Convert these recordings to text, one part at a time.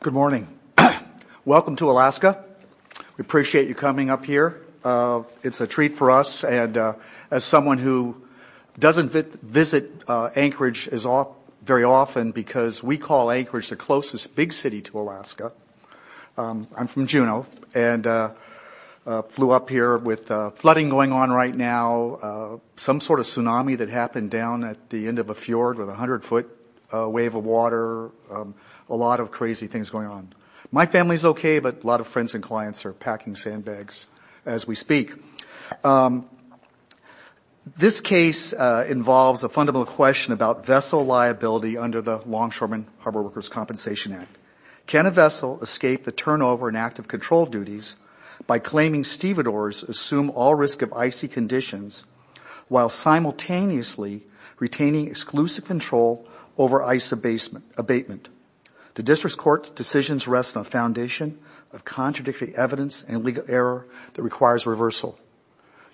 Good morning. Welcome to Alaska. We appreciate you coming up here. It's a treat for us. As someone who doesn't visit Anchorage very often because we call Anchorage the closest big city to Alaska, I'm from Juneau and flew up here with flooding going on right now, some sort of tsunami that happened down at the end of a fjord with a 100-foot wave of water, a lot of crazy things going on. My family's okay, but a lot of friends and clients are packing sandbags as we speak. This case involves a fundamental question about vessel liability under the Longshoreman Harbor Workers' Compensation Act. Can a vessel escape the turnover in active control duties by claiming stevedores assume all risk of icy conditions while simultaneously retaining exclusive control over ice abatement? The District Court's decision rests on a foundation of contradictory evidence and legal error that requires reversal.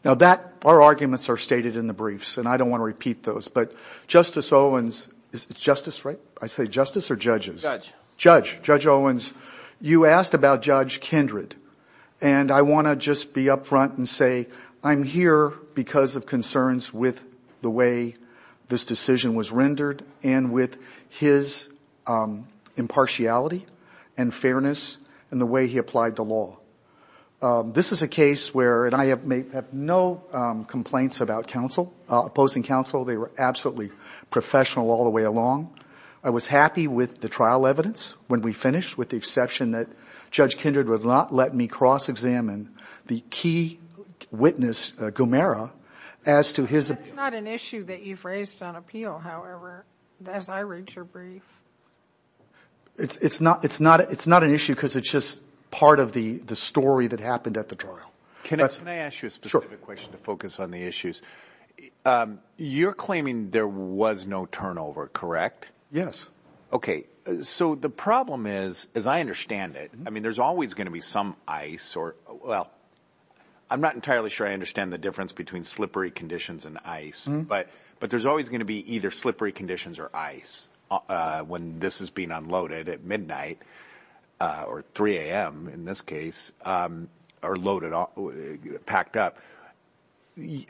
Now, our arguments are stated in the briefs, and I don't want to repeat those, but Justice Owens, you asked about Judge Kindred, and I want to just be up front and say I'm here because of concerns with the way this decision was rendered and with his impartiality and fairness and the way he applied the law. This is a case where, and I have no complaints about opposing counsel. They were absolutely professional all the way along. I was happy with the trial evidence when we finished, with the exception that Judge Kindred would not let me cross-examine the key witness, Gomera, as to his opinion. That's not an issue that you've raised on appeal, however, as I read your brief. It's not an issue because it's just part of the story that happened at the trial. Can I ask you a specific question to focus on the issues? You're claiming there was no turnover, correct? Yes. Okay, so the problem is, as I understand it, I mean, there's always going to be some ice, or, well, I'm not entirely sure I understand the difference between slippery conditions and ice, but there's always going to be either slippery conditions or ice when this is being unloaded at midnight, or 3 a.m. in this case, or loaded, packed up.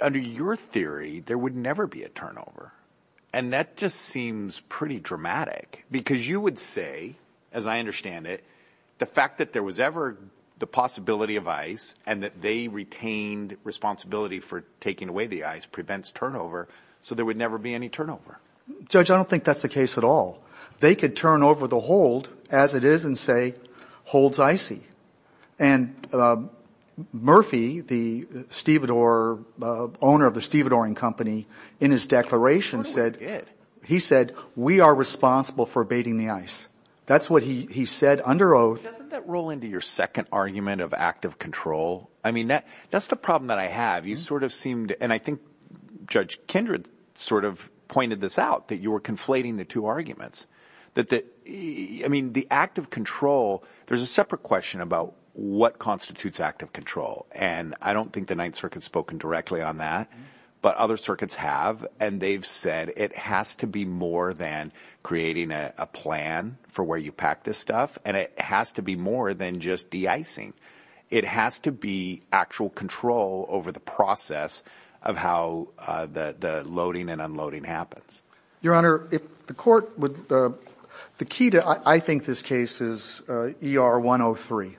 Under your theory, there would never be a turnover, and that just seems pretty dramatic because you would say, as I understand it, the fact that there was ever the possibility of ice and that they retained responsibility for taking away the ice prevents turnover, so there would never be any turnover. Judge, I don't think that's the case at all. They could turn over the hold, as it is, and say, hold's icy. And Murphy, the owner of the stevedoring company, in his declaration said, he said, we are responsible for abating the ice. That's what he said under oath. Doesn't that roll into your second argument of active control? I mean, that's the problem that I have. You sort of seemed, and I think Judge Kindred sort of pointed this out, that you were conflating the two arguments. I mean, the active control, there's a separate question about what constitutes active control, and I don't think the Ninth Circuit's spoken directly on that, but other circuits have, and they've said it has to be more than creating a plan for where you pack this stuff, and it has to be more than just de-icing. It has to be actual control over the process of how the loading and unloading happens. Your Honor, the key to, I think, this case is ER 103.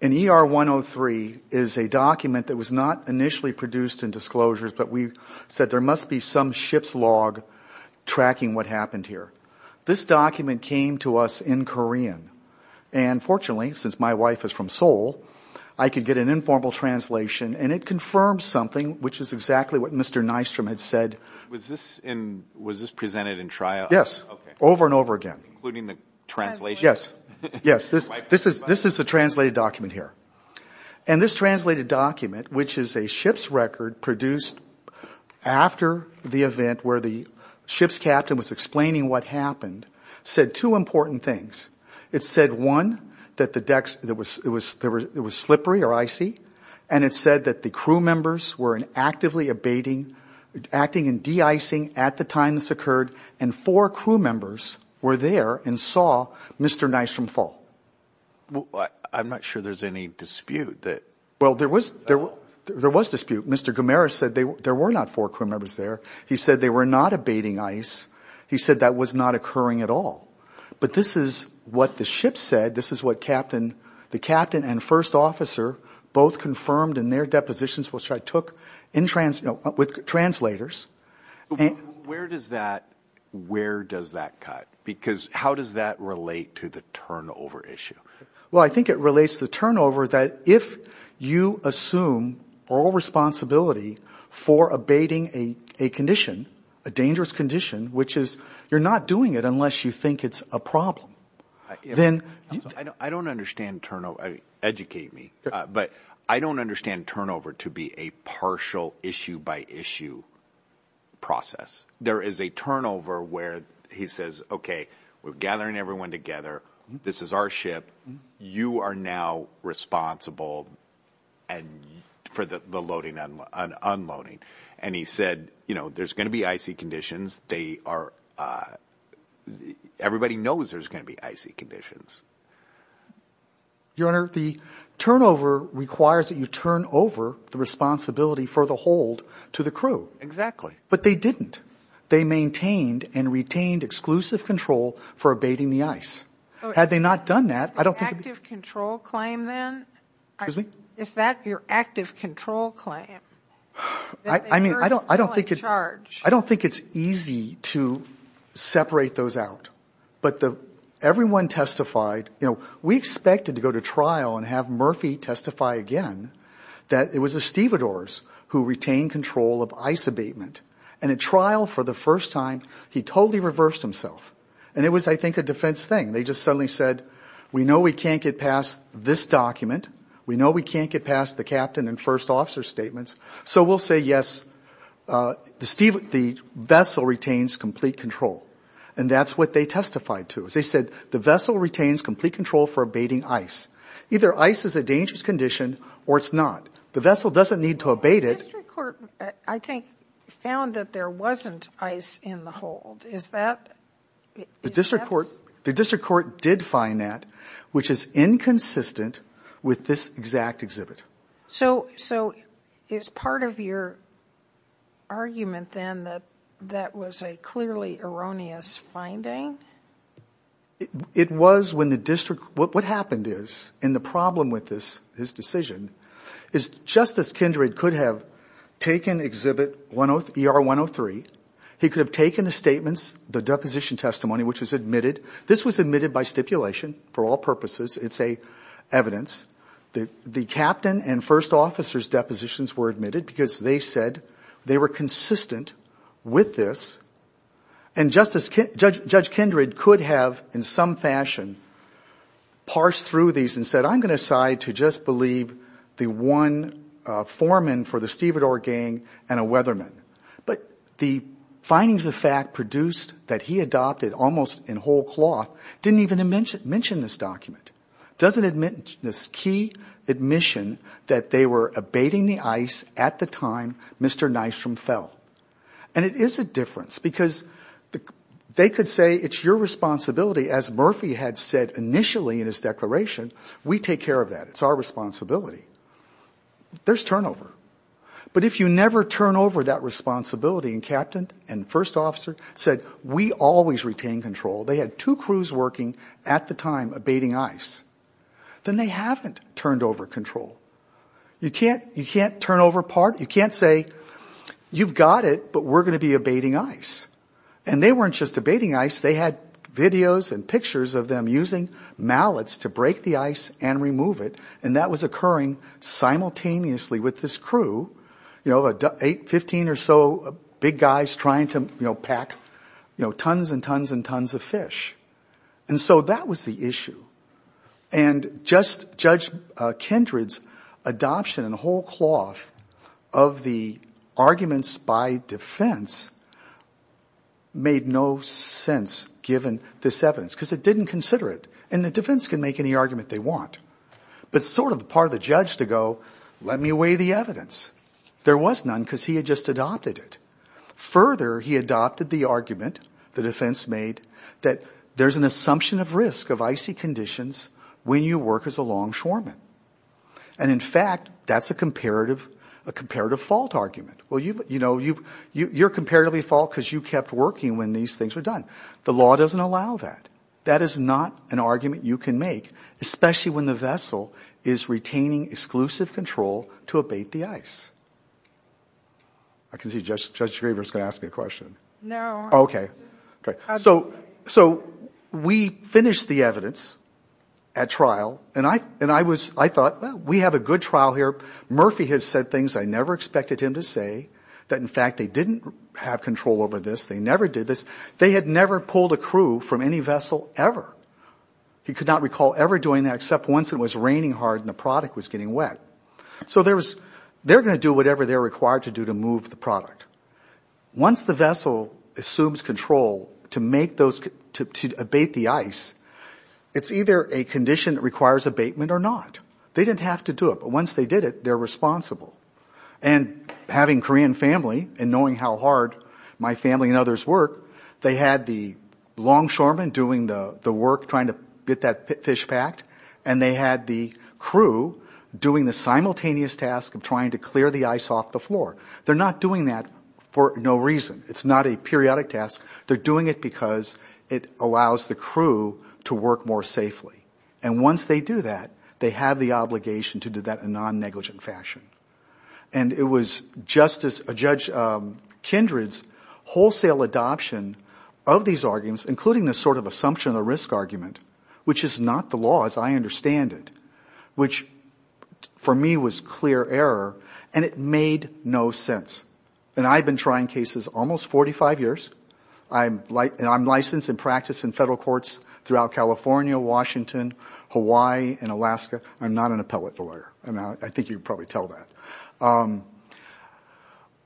And ER 103 is a document that was not initially produced in disclosures, but we said there must be some ship's log tracking what happened here. This document came to us in Korean, and fortunately, since my wife is from Seoul, I could get an informal translation, and it confirmed something, which is exactly what Mr. Nystrom had said. Was this presented in trial? Yes, over and over again. Including the translation? Yes, this is the translated document here. And this translated document, which is a ship's record produced after the event where the ship's captain was explaining what happened, said two important things. It said, one, that the decks, it was slippery or icy, and it said that the crew members were actively abating, acting in de-icing at the time this occurred, and four crew members were there and saw Mr. Nystrom fall. I'm not sure there's any dispute that... Well, there was dispute. Mr. Gamara said there were not four crew members there. He said they were not abating ice. He said that was not occurring at all. But this is what the ship said. This is what the captain and first officer both confirmed in their depositions, which I took with translators. Where does that cut? Because how does that relate to the turnover issue? Well, I think it relates to the turnover that if you assume all responsibility for abating a condition, a dangerous condition, which is you're not doing it unless you think it's a problem, then... I don't understand turnover. Educate me. But I don't understand turnover to be a partial issue by issue process. There is a turnover where he says, okay, we're gathering everyone together. This is our ship. You are now responsible for the loading and unloading. And he said, you know, there's going to be icy conditions. Everybody knows there's going to be icy conditions. Your Honor, the turnover requires that you turn over the responsibility for the hold to the crew. But they didn't. They maintained and retained exclusive control for abating the ice. Had they not done that, I don't think it would be... Active control claim then? Excuse me? Is that your active control claim? I mean, I don't think it's easy to separate those out. But everyone testified. You know, we expected to go to trial and have Murphy testify again that it was Estivadores who retained control of ice abatement. And at trial for the first time, he totally reversed himself. And it was, I think, a defense thing. They just suddenly said, we know we can't get past this document. We know we can't get past the captain and first officer statements. So we'll say, yes, the vessel retains complete control. And that's what they testified to. They said the vessel retains complete control for abating ice. Either ice is a dangerous condition or it's not. The vessel doesn't need to abate it. The district court, I think, found that there wasn't ice in the hold. Is that? The district court did find that, which is inconsistent with this exact exhibit. So is part of your argument then that that was a clearly erroneous finding? It was when the district, what happened is, and the problem with this decision, is Justice Kindred could have taken exhibit ER 103. He could have taken the statements, the deposition testimony, which was admitted. This was admitted by stipulation for all purposes. It's evidence. The captain and first officer's depositions were admitted because they said they were consistent with this. And Judge Kindred could have, in some fashion, parsed through these and said, I'm going to decide to just believe the one foreman for the stevedore gang and a weatherman. But the findings of fact produced that he adopted almost in whole cloth didn't even mention this document. It doesn't admit this key admission that they were abating the ice at the time Mr. Nystrom fell. And it is a difference because they could say it's your responsibility, as Murphy had said initially in his declaration, we take care of that. It's our responsibility. There's turnover. But if you never turn over that responsibility, and captain and first officer said, we always retain control. They had two crews working at the time abating ice. Then they haven't turned over control. You can't turn over part. You can't say, you've got it, but we're going to be abating ice. And they weren't just abating ice. They had videos and pictures of them using mallets to break the ice and remove it, and that was occurring simultaneously with this crew, 15 or so big guys trying to pack tons and tons and tons of fish. And so that was the issue. And just Judge Kindred's adoption in whole cloth of the arguments by defense made no sense given this evidence because it didn't consider it. And the defense can make any argument they want, but it's sort of part of the judge to go, let me weigh the evidence. There was none because he had just adopted it. Further, he adopted the argument, the defense made, that there's an assumption of risk of icy conditions when you work as a longshoreman. And, in fact, that's a comparative fault argument. Well, you know, you're comparatively fault because you kept working when these things were done. The law doesn't allow that. That is not an argument you can make, especially when the vessel is retaining exclusive control to abate the ice. I can see Judge Schriever is going to ask me a question. No. Okay. So we finished the evidence at trial, and I thought, well, we have a good trial here. Murphy has said things I never expected him to say, that, in fact, they didn't have control over this. They never did this. They had never pulled a crew from any vessel ever. He could not recall ever doing that except once it was raining hard and the product was getting wet. So they're going to do whatever they're required to do to move the product. Once the vessel assumes control to abate the ice, it's either a condition that requires abatement or not. They didn't have to do it, but once they did it, they're responsible. And having Korean family and knowing how hard my family and others work, they had the longshoremen doing the work trying to get that fish packed, and they had the crew doing the simultaneous task of trying to clear the ice off the floor. They're not doing that for no reason. It's not a periodic task. They're doing it because it allows the crew to work more safely. And once they do that, they have the obligation to do that in a non-negligent fashion. And it was Justice, Judge Kindred's wholesale adoption of these arguments, including the sort of assumption of the risk argument, which is not the law as I understand it, which for me was clear error, and it made no sense. And I've been trying cases almost 45 years. And I'm licensed in practice in federal courts throughout California, Washington, Hawaii, and Alaska. I'm not an appellate lawyer. I think you can probably tell that.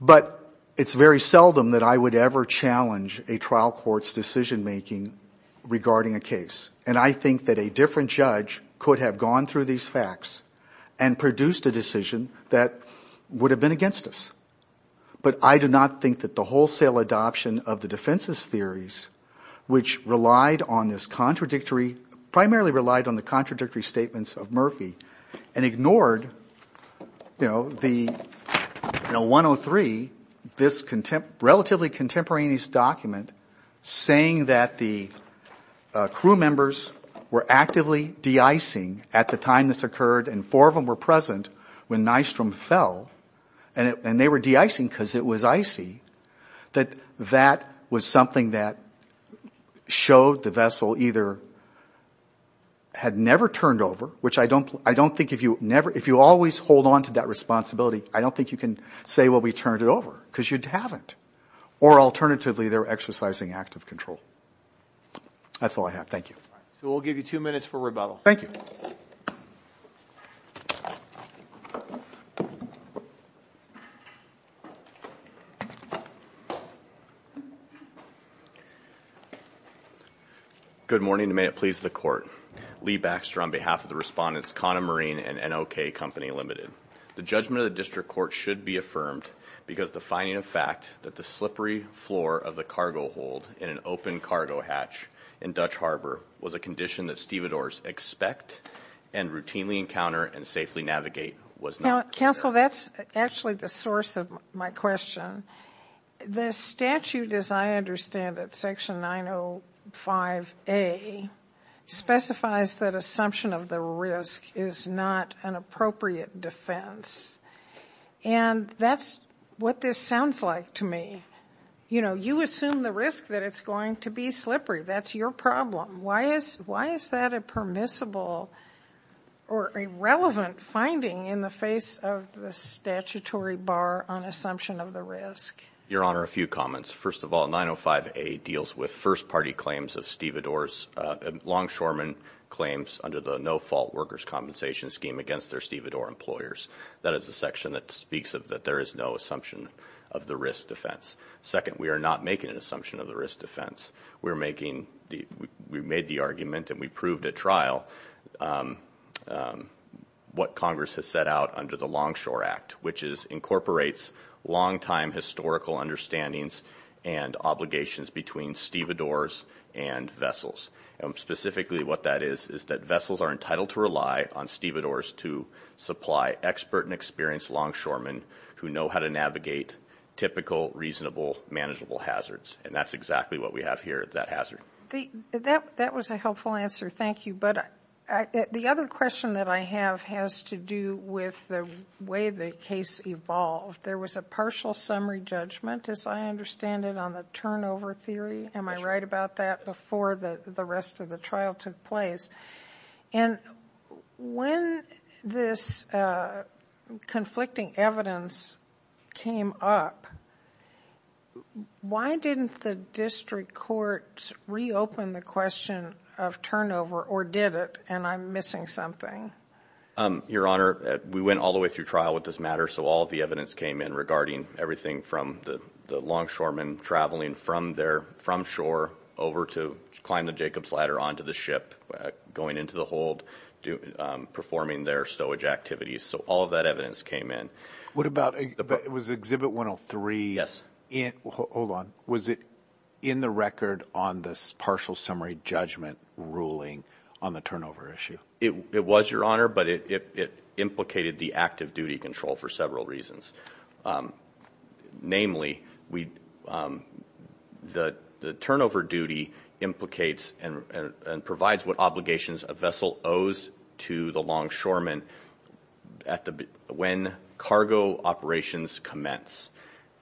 But it's very seldom that I would ever challenge a trial court's decision-making regarding a case. And I think that a different judge could have gone through these facts and produced a decision that would have been against us. But I do not think that the wholesale adoption of the defense's theories, which relied on this contradictory, primarily relied on the contradictory statements of Murphy, and ignored the 103, this relatively contemporaneous document, saying that the crew members were actively de-icing at the time this occurred, and four of them were present when Nystrom fell, and they were de-icing because it was icy, that that was something that showed the vessel either had never turned over, which I don't think if you always hold on to that responsibility, I don't think you can say, well, we turned it over, because you haven't, or alternatively they were exercising active control. That's all I have. Thank you. So we'll give you two minutes for rebuttal. Thank you. Good morning, and may it please the Court. Lee Baxter on behalf of the respondents, Kana Marine and NOK Company Limited. The judgment of the district court should be affirmed because the finding of fact that the slippery floor of the cargo hold in an open cargo hatch in Dutch Harbor was a condition that stevedores expect and routinely encounter and safely navigate was not correct. Counsel, that's actually the source of my question. The statute, as I understand it, Section 905A, specifies that assumption of the risk is not an appropriate defense, and that's what this sounds like to me. You assume the risk that it's going to be slippery. That's your problem. Why is that a permissible or irrelevant finding in the face of the statutory bar on assumption of the risk? Your Honor, a few comments. First of all, 905A deals with first-party claims of stevedores, longshoremen claims under the no-fault workers' compensation scheme against their stevedore employers. That is the section that speaks of that there is no assumption of the risk defense. Second, we are not making an assumption of the risk defense. We're making the argument, and we proved at trial, what Congress has set out under the Longshore Act, which is incorporates longtime historical understandings and obligations between stevedores and vessels. And specifically what that is is that vessels are entitled to rely on stevedores to supply expert and experienced longshoremen who know how to navigate typical, reasonable, manageable hazards. And that's exactly what we have here, that hazard. That was a helpful answer. Thank you. The other question that I have has to do with the way the case evolved. There was a partial summary judgment, as I understand it, on the turnover theory. Am I right about that? Before the rest of the trial took place. And when this conflicting evidence came up, why didn't the district court reopen the question of turnover, or did it? And I'm missing something. Your Honor, we went all the way through trial with this matter, so all of the evidence came in regarding everything from the longshoremen traveling from shore over to climb the Jacobs Ladder onto the ship, going into the hold, performing their stowage activities. So all of that evidence came in. What about, it was Exhibit 103. Yes. Hold on. Was it in the record on this partial summary judgment ruling on the turnover issue? It was, Your Honor, but it implicated the active duty control for several reasons. Namely, the turnover duty implicates and provides what obligations a vessel owes to the longshoremen when cargo operations commence.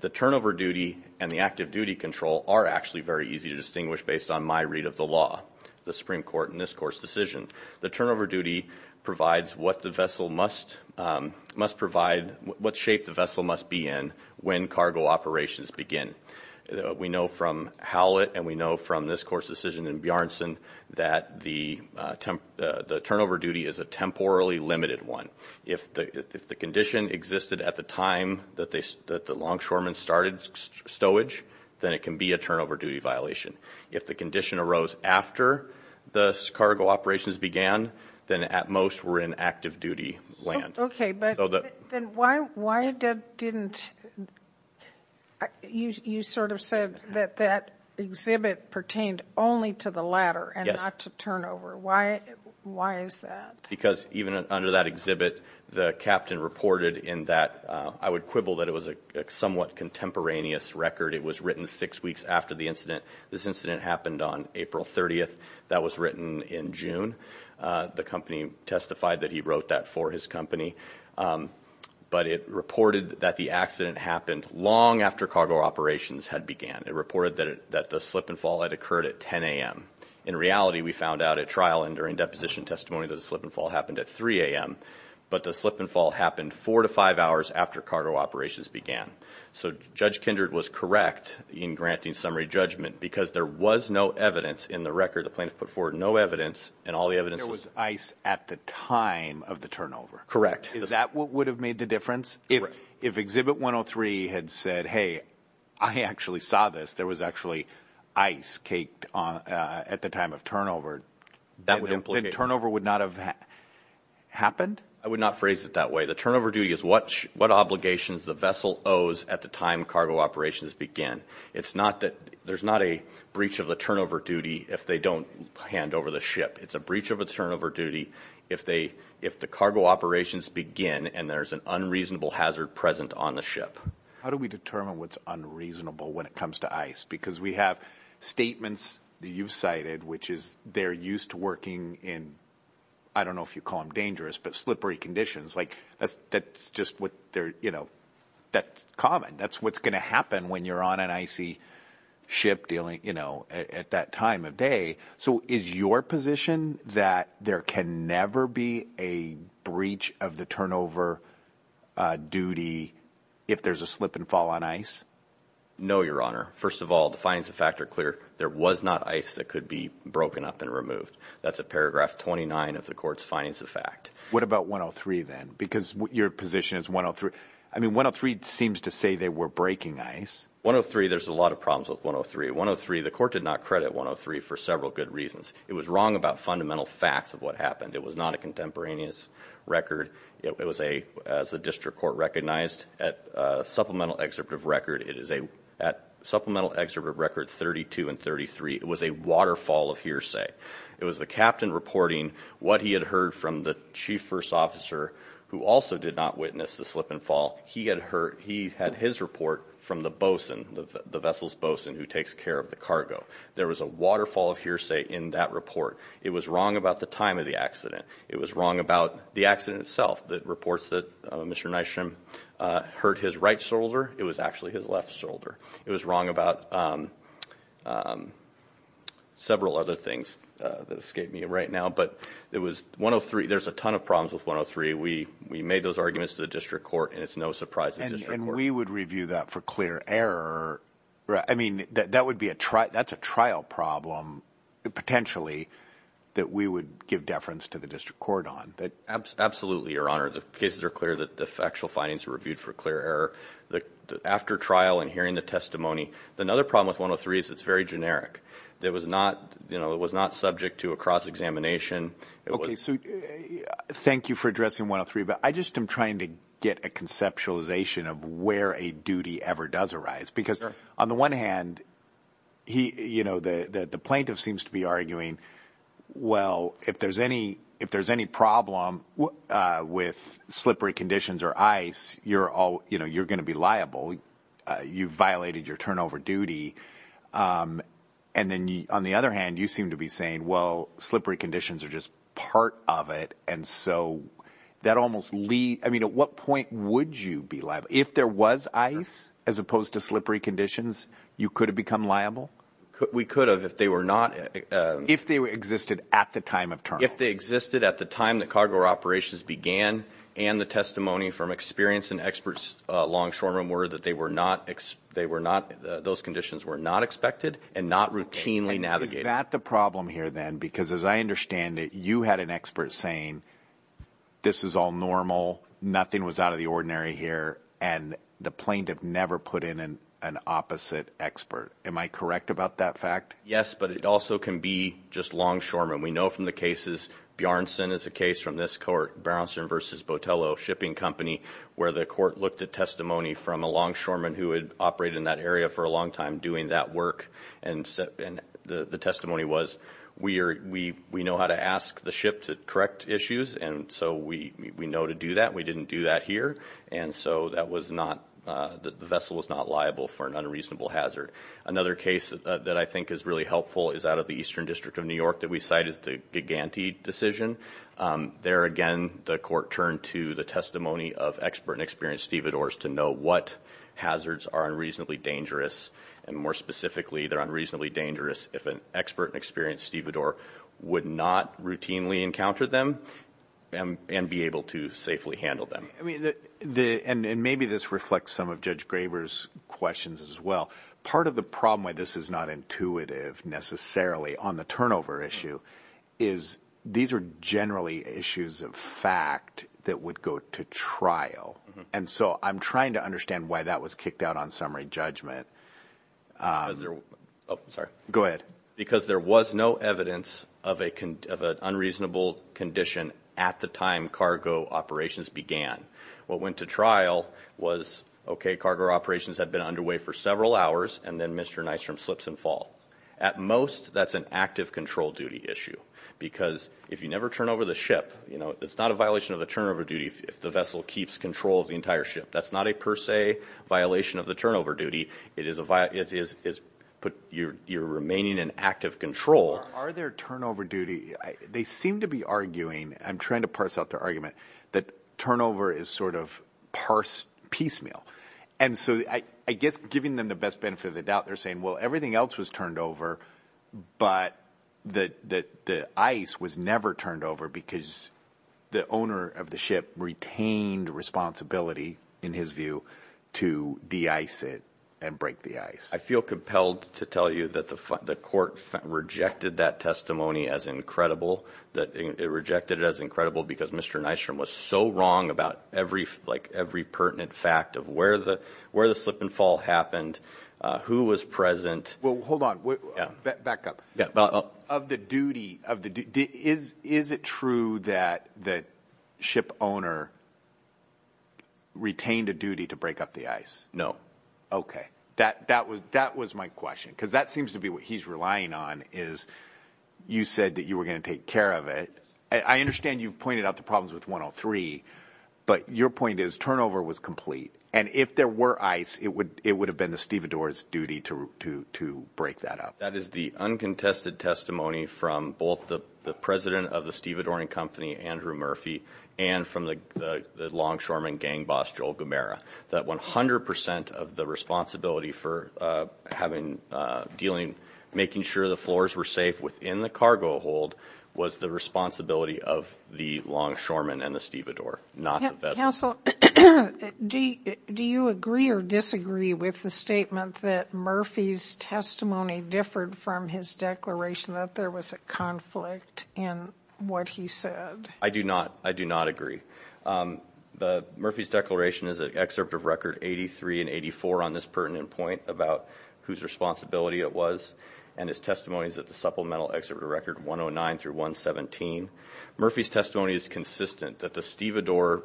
The turnover duty and the active duty control are actually very easy to distinguish based on my read of the law, the Supreme Court in this Court's decision. The turnover duty provides what the vessel must provide, what shape the vessel must be in when cargo operations begin. We know from Howlett and we know from this Court's decision in Bjarnson that the turnover duty is a temporally limited one. If the condition existed at the time that the longshoremen started stowage, then it can be a turnover duty violation. If the condition arose after the cargo operations began, then at most we're in active duty land. Okay, but then why didn't, you sort of said that that exhibit pertained only to the latter and not to turnover. Why is that? Because even under that exhibit, the captain reported in that, I would quibble that it was a somewhat contemporaneous record. It was written six weeks after the incident. This incident happened on April 30th. That was written in June. The company testified that he wrote that for his company. But it reported that the accident happened long after cargo operations had began. It reported that the slip and fall had occurred at 10 a.m. In reality, we found out at trial and during deposition testimony that the slip and fall happened at 3 a.m., but the slip and fall happened four to five hours after cargo operations began. So Judge Kindred was correct in granting summary judgment because there was no evidence in the record. The plaintiff put forward no evidence, and all the evidence was. There was ice at the time of the turnover. Correct. Is that what would have made the difference? Correct. If exhibit 103 had said, hey, I actually saw this, there was actually ice caked at the time of turnover, then turnover would not have happened? I would not phrase it that way. The turnover duty is what obligations the vessel owes at the time cargo operations begin. There's not a breach of the turnover duty if they don't hand over the ship. It's a breach of a turnover duty if the cargo operations begin and there's an unreasonable hazard present on the ship. How do we determine what's unreasonable when it comes to ice? Because we have statements that you've cited, which is they're used to working in, I don't know if you call them dangerous, but slippery conditions, like that's just what they're, you know, that's common. That's what's going to happen when you're on an icy ship dealing, you know, at that time of day. So is your position that there can never be a breach of the turnover duty if there's a slip and fall on ice? No, Your Honor. First of all, the findings of fact are clear. There was not ice that could be broken up and removed. That's at paragraph 29 of the court's findings of fact. What about 103 then? Because your position is 103. I mean, 103 seems to say they were breaking ice. 103, there's a lot of problems with 103. 103, the court did not credit 103 for several good reasons. It was wrong about fundamental facts of what happened. It was not a contemporaneous record. It was a, as the district court recognized, a supplemental excerpt of record. It is a supplemental excerpt of record 32 and 33. It was a waterfall of hearsay. It was the captain reporting what he had heard from the chief first officer who also did not witness the slip and fall. He had his report from the bosun, the vessel's bosun who takes care of the cargo. There was a waterfall of hearsay in that report. It was wrong about the time of the accident. It was wrong about the accident itself, the reports that Mr. Nystrom hurt his right shoulder. It was actually his left shoulder. It was wrong about several other things that escape me right now. But it was 103. There's a ton of problems with 103. We made those arguments to the district court, and it's no surprise to the district court. And we would review that for clear error. I mean, that would be a trial. That's a trial problem, potentially, that we would give deference to the district court on. Absolutely, Your Honor. The cases are clear that the factual findings were reviewed for clear error. After trial and hearing the testimony. Another problem with 103 is it's very generic. It was not subject to a cross-examination. Okay, so thank you for addressing 103. But I just am trying to get a conceptualization of where a duty ever does arise. Because, on the one hand, the plaintiff seems to be arguing, well, if there's any problem with slippery conditions or ice, you're going to be liable. You violated your turnover duty. And then, on the other hand, you seem to be saying, well, slippery conditions are just part of it. And so that almost leads. I mean, at what point would you be liable? If there was ice, as opposed to slippery conditions, you could have become liable? We could have if they were not. If they existed at the time of turnover. If they existed at the time that cargo operations began and the testimony from experience and experts along shoreline were that they were not, those conditions were not expected and not routinely navigated. Is that the problem here then? Because, as I understand it, you had an expert saying this is all normal, nothing was out of the ordinary here, and the plaintiff never put in an opposite expert. Am I correct about that fact? Yes, but it also can be just longshoremen. We know from the cases. Bjarnson is a case from this court, Bjarnson v. Botello Shipping Company, where the court looked at testimony from a longshoreman who had operated in that area for a long time doing that work. The testimony was, we know how to ask the ship to correct issues, and so we know to do that. We didn't do that here, and so the vessel was not liable for an unreasonable hazard. Another case that I think is really helpful is out of the Eastern District of New York that we cite as the Gigante decision. There again, the court turned to the testimony of expert and experienced stevedores to know what hazards are unreasonably dangerous, and more specifically, they're unreasonably dangerous if an expert and experienced stevedore would not routinely encounter them and be able to safely handle them. And maybe this reflects some of Judge Graber's questions as well. Part of the problem why this is not intuitive necessarily on the turnover issue is these are generally issues of fact that would go to trial, and so I'm trying to understand why that was kicked out on summary judgment. Go ahead. Because there was no evidence of an unreasonable condition at the time cargo operations began. What went to trial was, okay, cargo operations had been underway for several hours, and then Mr. Nystrom slips and falls. At most, that's an active control duty issue because if you never turn over the ship, it's not a violation of the turnover duty if the vessel keeps control of the entire ship. That's not a per se violation of the turnover duty. It is your remaining in active control. Are there turnover duty? They seem to be arguing, and I'm trying to parse out their argument, that turnover is sort of parsed piecemeal. And so I guess giving them the best benefit of the doubt, they're saying, well, everything else was turned over, but the ice was never turned over because the owner of the ship retained responsibility, in his view, to de-ice it and break the ice. I feel compelled to tell you that the court rejected that testimony as incredible, that it rejected it as incredible because Mr. Nystrom was so wrong about every pertinent fact of where the slip and fall happened, who was present. Well, hold on. Back up. Of the duty, is it true that the ship owner retained a duty to break up the ice? No. Okay. That was my question because that seems to be what he's relying on is you said that you were going to take care of it. I understand you've pointed out the problems with 103, but your point is turnover was complete, and if there were ice, it would have been the stevedores' duty to break that up. That is the uncontested testimony from both the president of the stevedoring company, Andrew Murphy, and from the longshoreman gang boss, Joel Gomera, that 100 percent of the responsibility for making sure the floors were safe within the cargo hold was the responsibility of the longshoreman and the stevedore, not the vessel. Counsel, do you agree or disagree with the statement that Murphy's testimony differed from his declaration that there was a conflict in what he said? I do not. I do not agree. Murphy's declaration is an excerpt of record 83 and 84 on this pertinent point about whose responsibility it was, and his testimony is at the supplemental excerpt of record 109 through 117. Murphy's testimony is consistent that the stevedore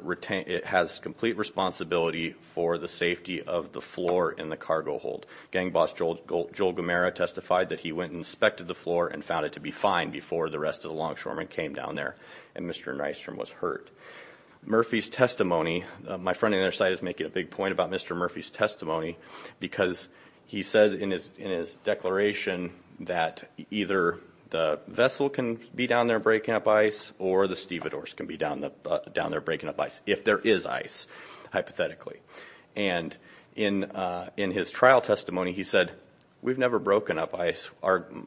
has complete responsibility for the safety of the floor in the cargo hold. Gang boss Joel Gomera testified that he went and inspected the floor and found it to be fine before the rest of the longshoremen came down there and Mr. Nystrom was hurt. Murphy's testimony, my friend on the other side is making a big point about Mr. Murphy's testimony because he said in his declaration that either the vessel can be down there breaking up ice or the stevedores can be down there breaking up ice, if there is ice, hypothetically. And in his trial testimony he said, we've never broken up ice.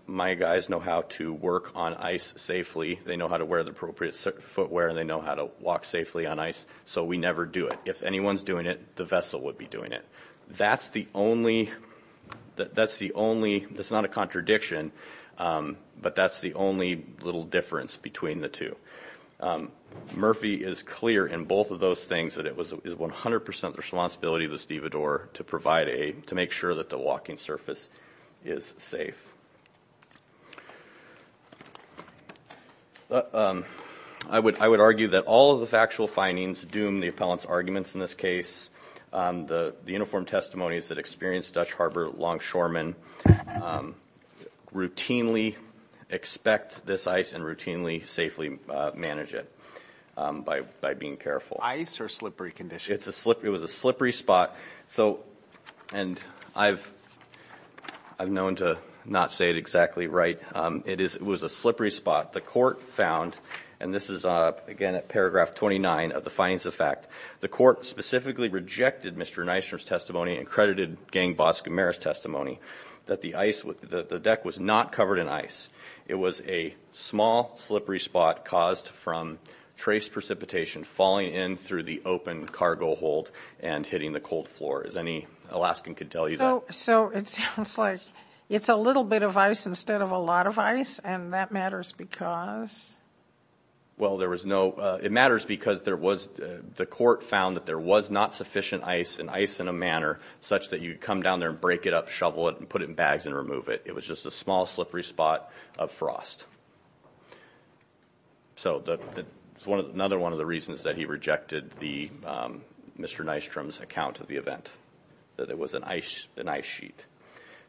My guys know how to work on ice safely. They know how to wear the appropriate footwear and they know how to walk safely on ice, so we never do it. If anyone's doing it, the vessel would be doing it. That's the only, that's the only, it's not a contradiction, but that's the only little difference between the two. Murphy is clear in both of those things that it is 100% the responsibility of the stevedore to provide aid, to make sure that the walking surface is safe. I would argue that all of the factual findings doom the appellant's arguments in this case. The uniform testimonies that experienced Dutch Harbor longshoremen routinely expect this ice and routinely safely manage it by being careful. Ice or slippery conditions? It was a slippery spot. And I've known to not say it exactly right. It was a slippery spot. The court found, and this is again at paragraph 29 of the findings of fact, the court specifically rejected Mr. Neisner's testimony and credited gang boss Gamera's testimony that the deck was not covered in ice. It was a small, slippery spot caused from trace precipitation falling in through the open cargo hold and hitting the cold floor. As any Alaskan could tell you that. So it sounds like it's a little bit of ice instead of a lot of ice, and that matters because? Well, there was no, it matters because there was, the court found that there was not sufficient ice, and ice in a manner such that you'd come down there and break it up, shovel it, and put it in bags and remove it. It was just a small, slippery spot of frost. So another one of the reasons that he rejected Mr. Neistrom's account of the event, that it was an ice sheet.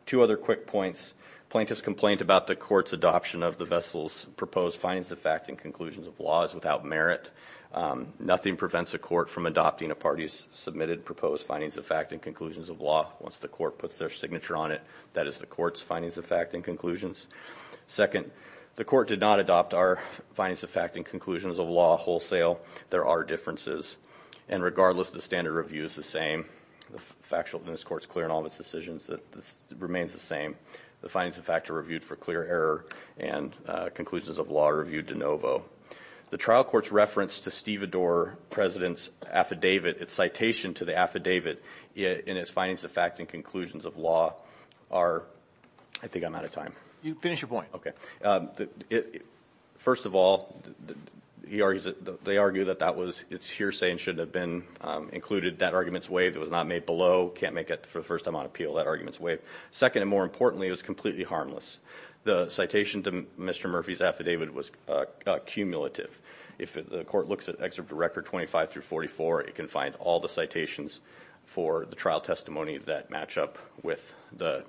Two other quick points. Plaintiff's complaint about the court's adoption of the vessel's proposed findings of fact and conclusions of law is without merit. Nothing prevents a court from adopting a party's submitted proposed findings of fact and conclusions of law once the court puts their signature on it. That is the court's findings of fact and conclusions. Second, the court did not adopt our findings of fact and conclusions of law wholesale. There are differences. And regardless, the standard review is the same. The factual in this court is clear in all of its decisions that this remains the same. The findings of fact are reviewed for clear error, and conclusions of law are reviewed de novo. The trial court's reference to Steve Adore President's affidavit, its citation to the affidavit in its findings of fact and conclusions of law are, I think I'm out of time. You can finish your point. Okay. First of all, they argue that that was its hearsay and shouldn't have been included. That argument's waived. It was not made below. Can't make it for the first time on appeal. That argument's waived. Second, and more importantly, it was completely harmless. The citation to Mr. Murphy's affidavit was cumulative. If the court looks at Excerpt to Record 25 through 44, it can find all the citations for the trial testimony that match up with the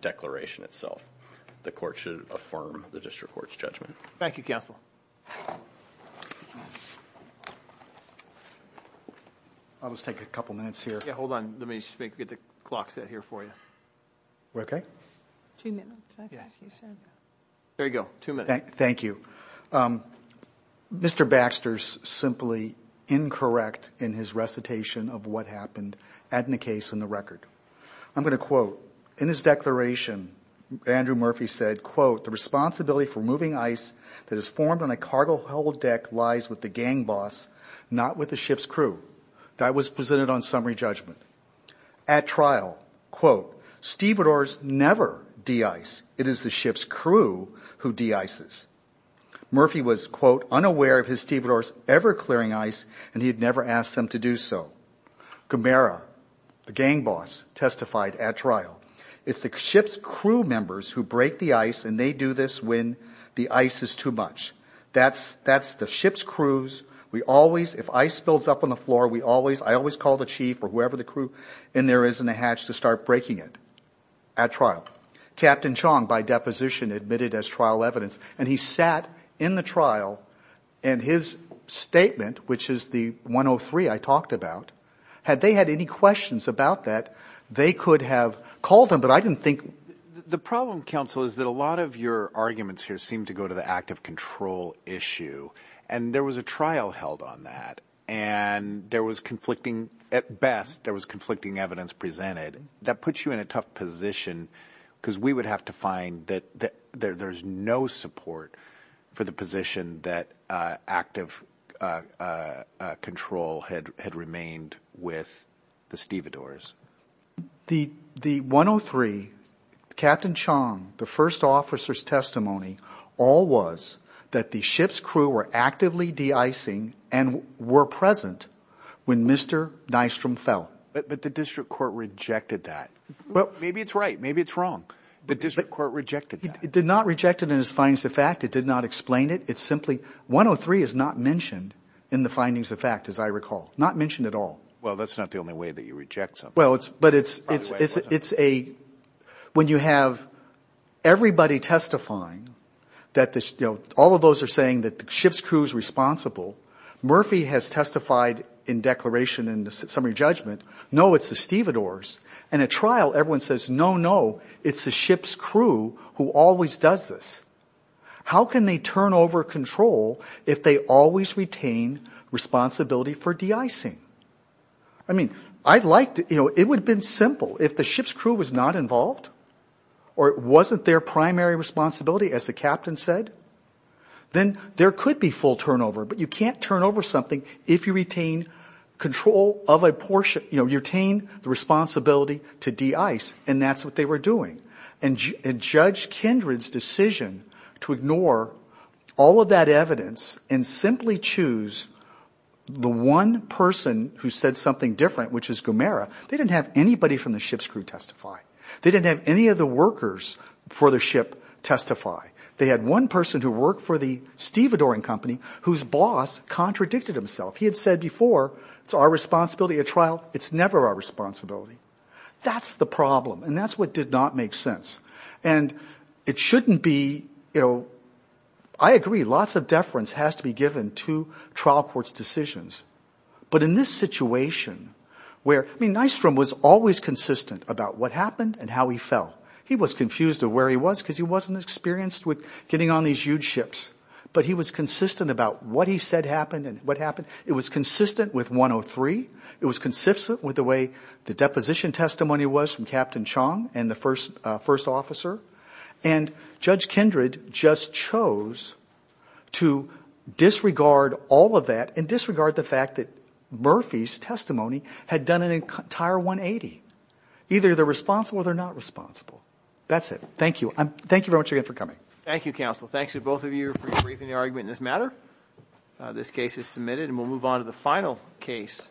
declaration itself. The court should affirm the district court's judgment. Thank you, counsel. I'll just take a couple minutes here. Yeah, hold on. Let me just get the clock set here for you. We're okay? Two minutes. There you go. Thank you. Mr. Baxter's simply incorrect in his recitation of what happened in the case in the record. I'm going to quote. In his declaration, Andrew Murphy said, quote, the responsibility for moving ice that is formed on a cargo-held deck lies with the gang boss, not with the ship's crew. That was presented on summary judgment. At trial, quote, stevedores never de-ice. It is the ship's crew who de-ices. Murphy was, quote, unaware of his stevedores ever clearing ice, and he had never asked them to do so. Gamera, the gang boss, testified at trial. It's the ship's crew members who break the ice, and they do this when the ice is too much. That's the ship's crews. We always, if ice builds up on the floor, we always, I always call the chief or whoever the crew in there is in the hatch to start breaking it at trial. Captain Chong, by deposition, admitted as trial evidence, and he sat in the trial, and his statement, which is the 103 I talked about, had they had any questions about that, they could have called him, but I didn't think. The problem, counsel, is that a lot of your arguments here seem to go to the act of control issue, and there was a trial held on that, and there was conflicting, at best, there was conflicting evidence presented. That puts you in a tough position because we would have to find that there's no support for the position that active control had remained with the stevedores. The 103, Captain Chong, the first officer's testimony, all was that the ship's crew were actively de-icing and were present when Mr. Nystrom fell. But the district court rejected that. Well, maybe it's right, maybe it's wrong. The district court rejected that. It did not reject it in its findings of fact. It did not explain it. It simply, 103 is not mentioned in the findings of fact, as I recall, not mentioned at all. Well, that's not the only way that you reject something. Well, but it's a, when you have everybody testifying, all of those are saying that the ship's crew is responsible. Murphy has testified in declaration in the summary judgment. No, it's the stevedores. In a trial, everyone says, no, no, it's the ship's crew who always does this. How can they turn over control if they always retain responsibility for de-icing? I mean, I'd like to, you know, it would have been simple if the ship's crew was not involved or it wasn't their primary responsibility, as the captain said, then there could be full turnover. But you can't turn over something if you retain control of a portion, you know, you retain the responsibility to de-ice, and that's what they were doing. And Judge Kindred's decision to ignore all of that evidence and simply choose the one person who said something different, which is Gomera, they didn't have anybody from the ship's crew testify. They didn't have any of the workers for the ship testify. They had one person who worked for the stevedoring company whose boss contradicted himself. He had said before, it's our responsibility at trial. It's never our responsibility. That's the problem, and that's what did not make sense. And it shouldn't be, you know, I agree, lots of deference has to be given to trial court's decisions. But in this situation where, I mean, Nystrom was always consistent about what happened and how he fell. He was confused of where he was because he wasn't experienced with getting on these huge ships. But he was consistent about what he said happened and what happened. It was consistent with 103. It was consistent with the way the deposition testimony was from Captain Chong and the first officer. And Judge Kindred just chose to disregard all of that and disregard the fact that Murphy's testimony had done an entire 180. Either they're responsible or they're not responsible. That's it. Thank you. Thank you very much again for coming. Thank you, counsel. Thanks to both of you for debriefing the argument in this matter. This case is submitted and we'll move on to the final case.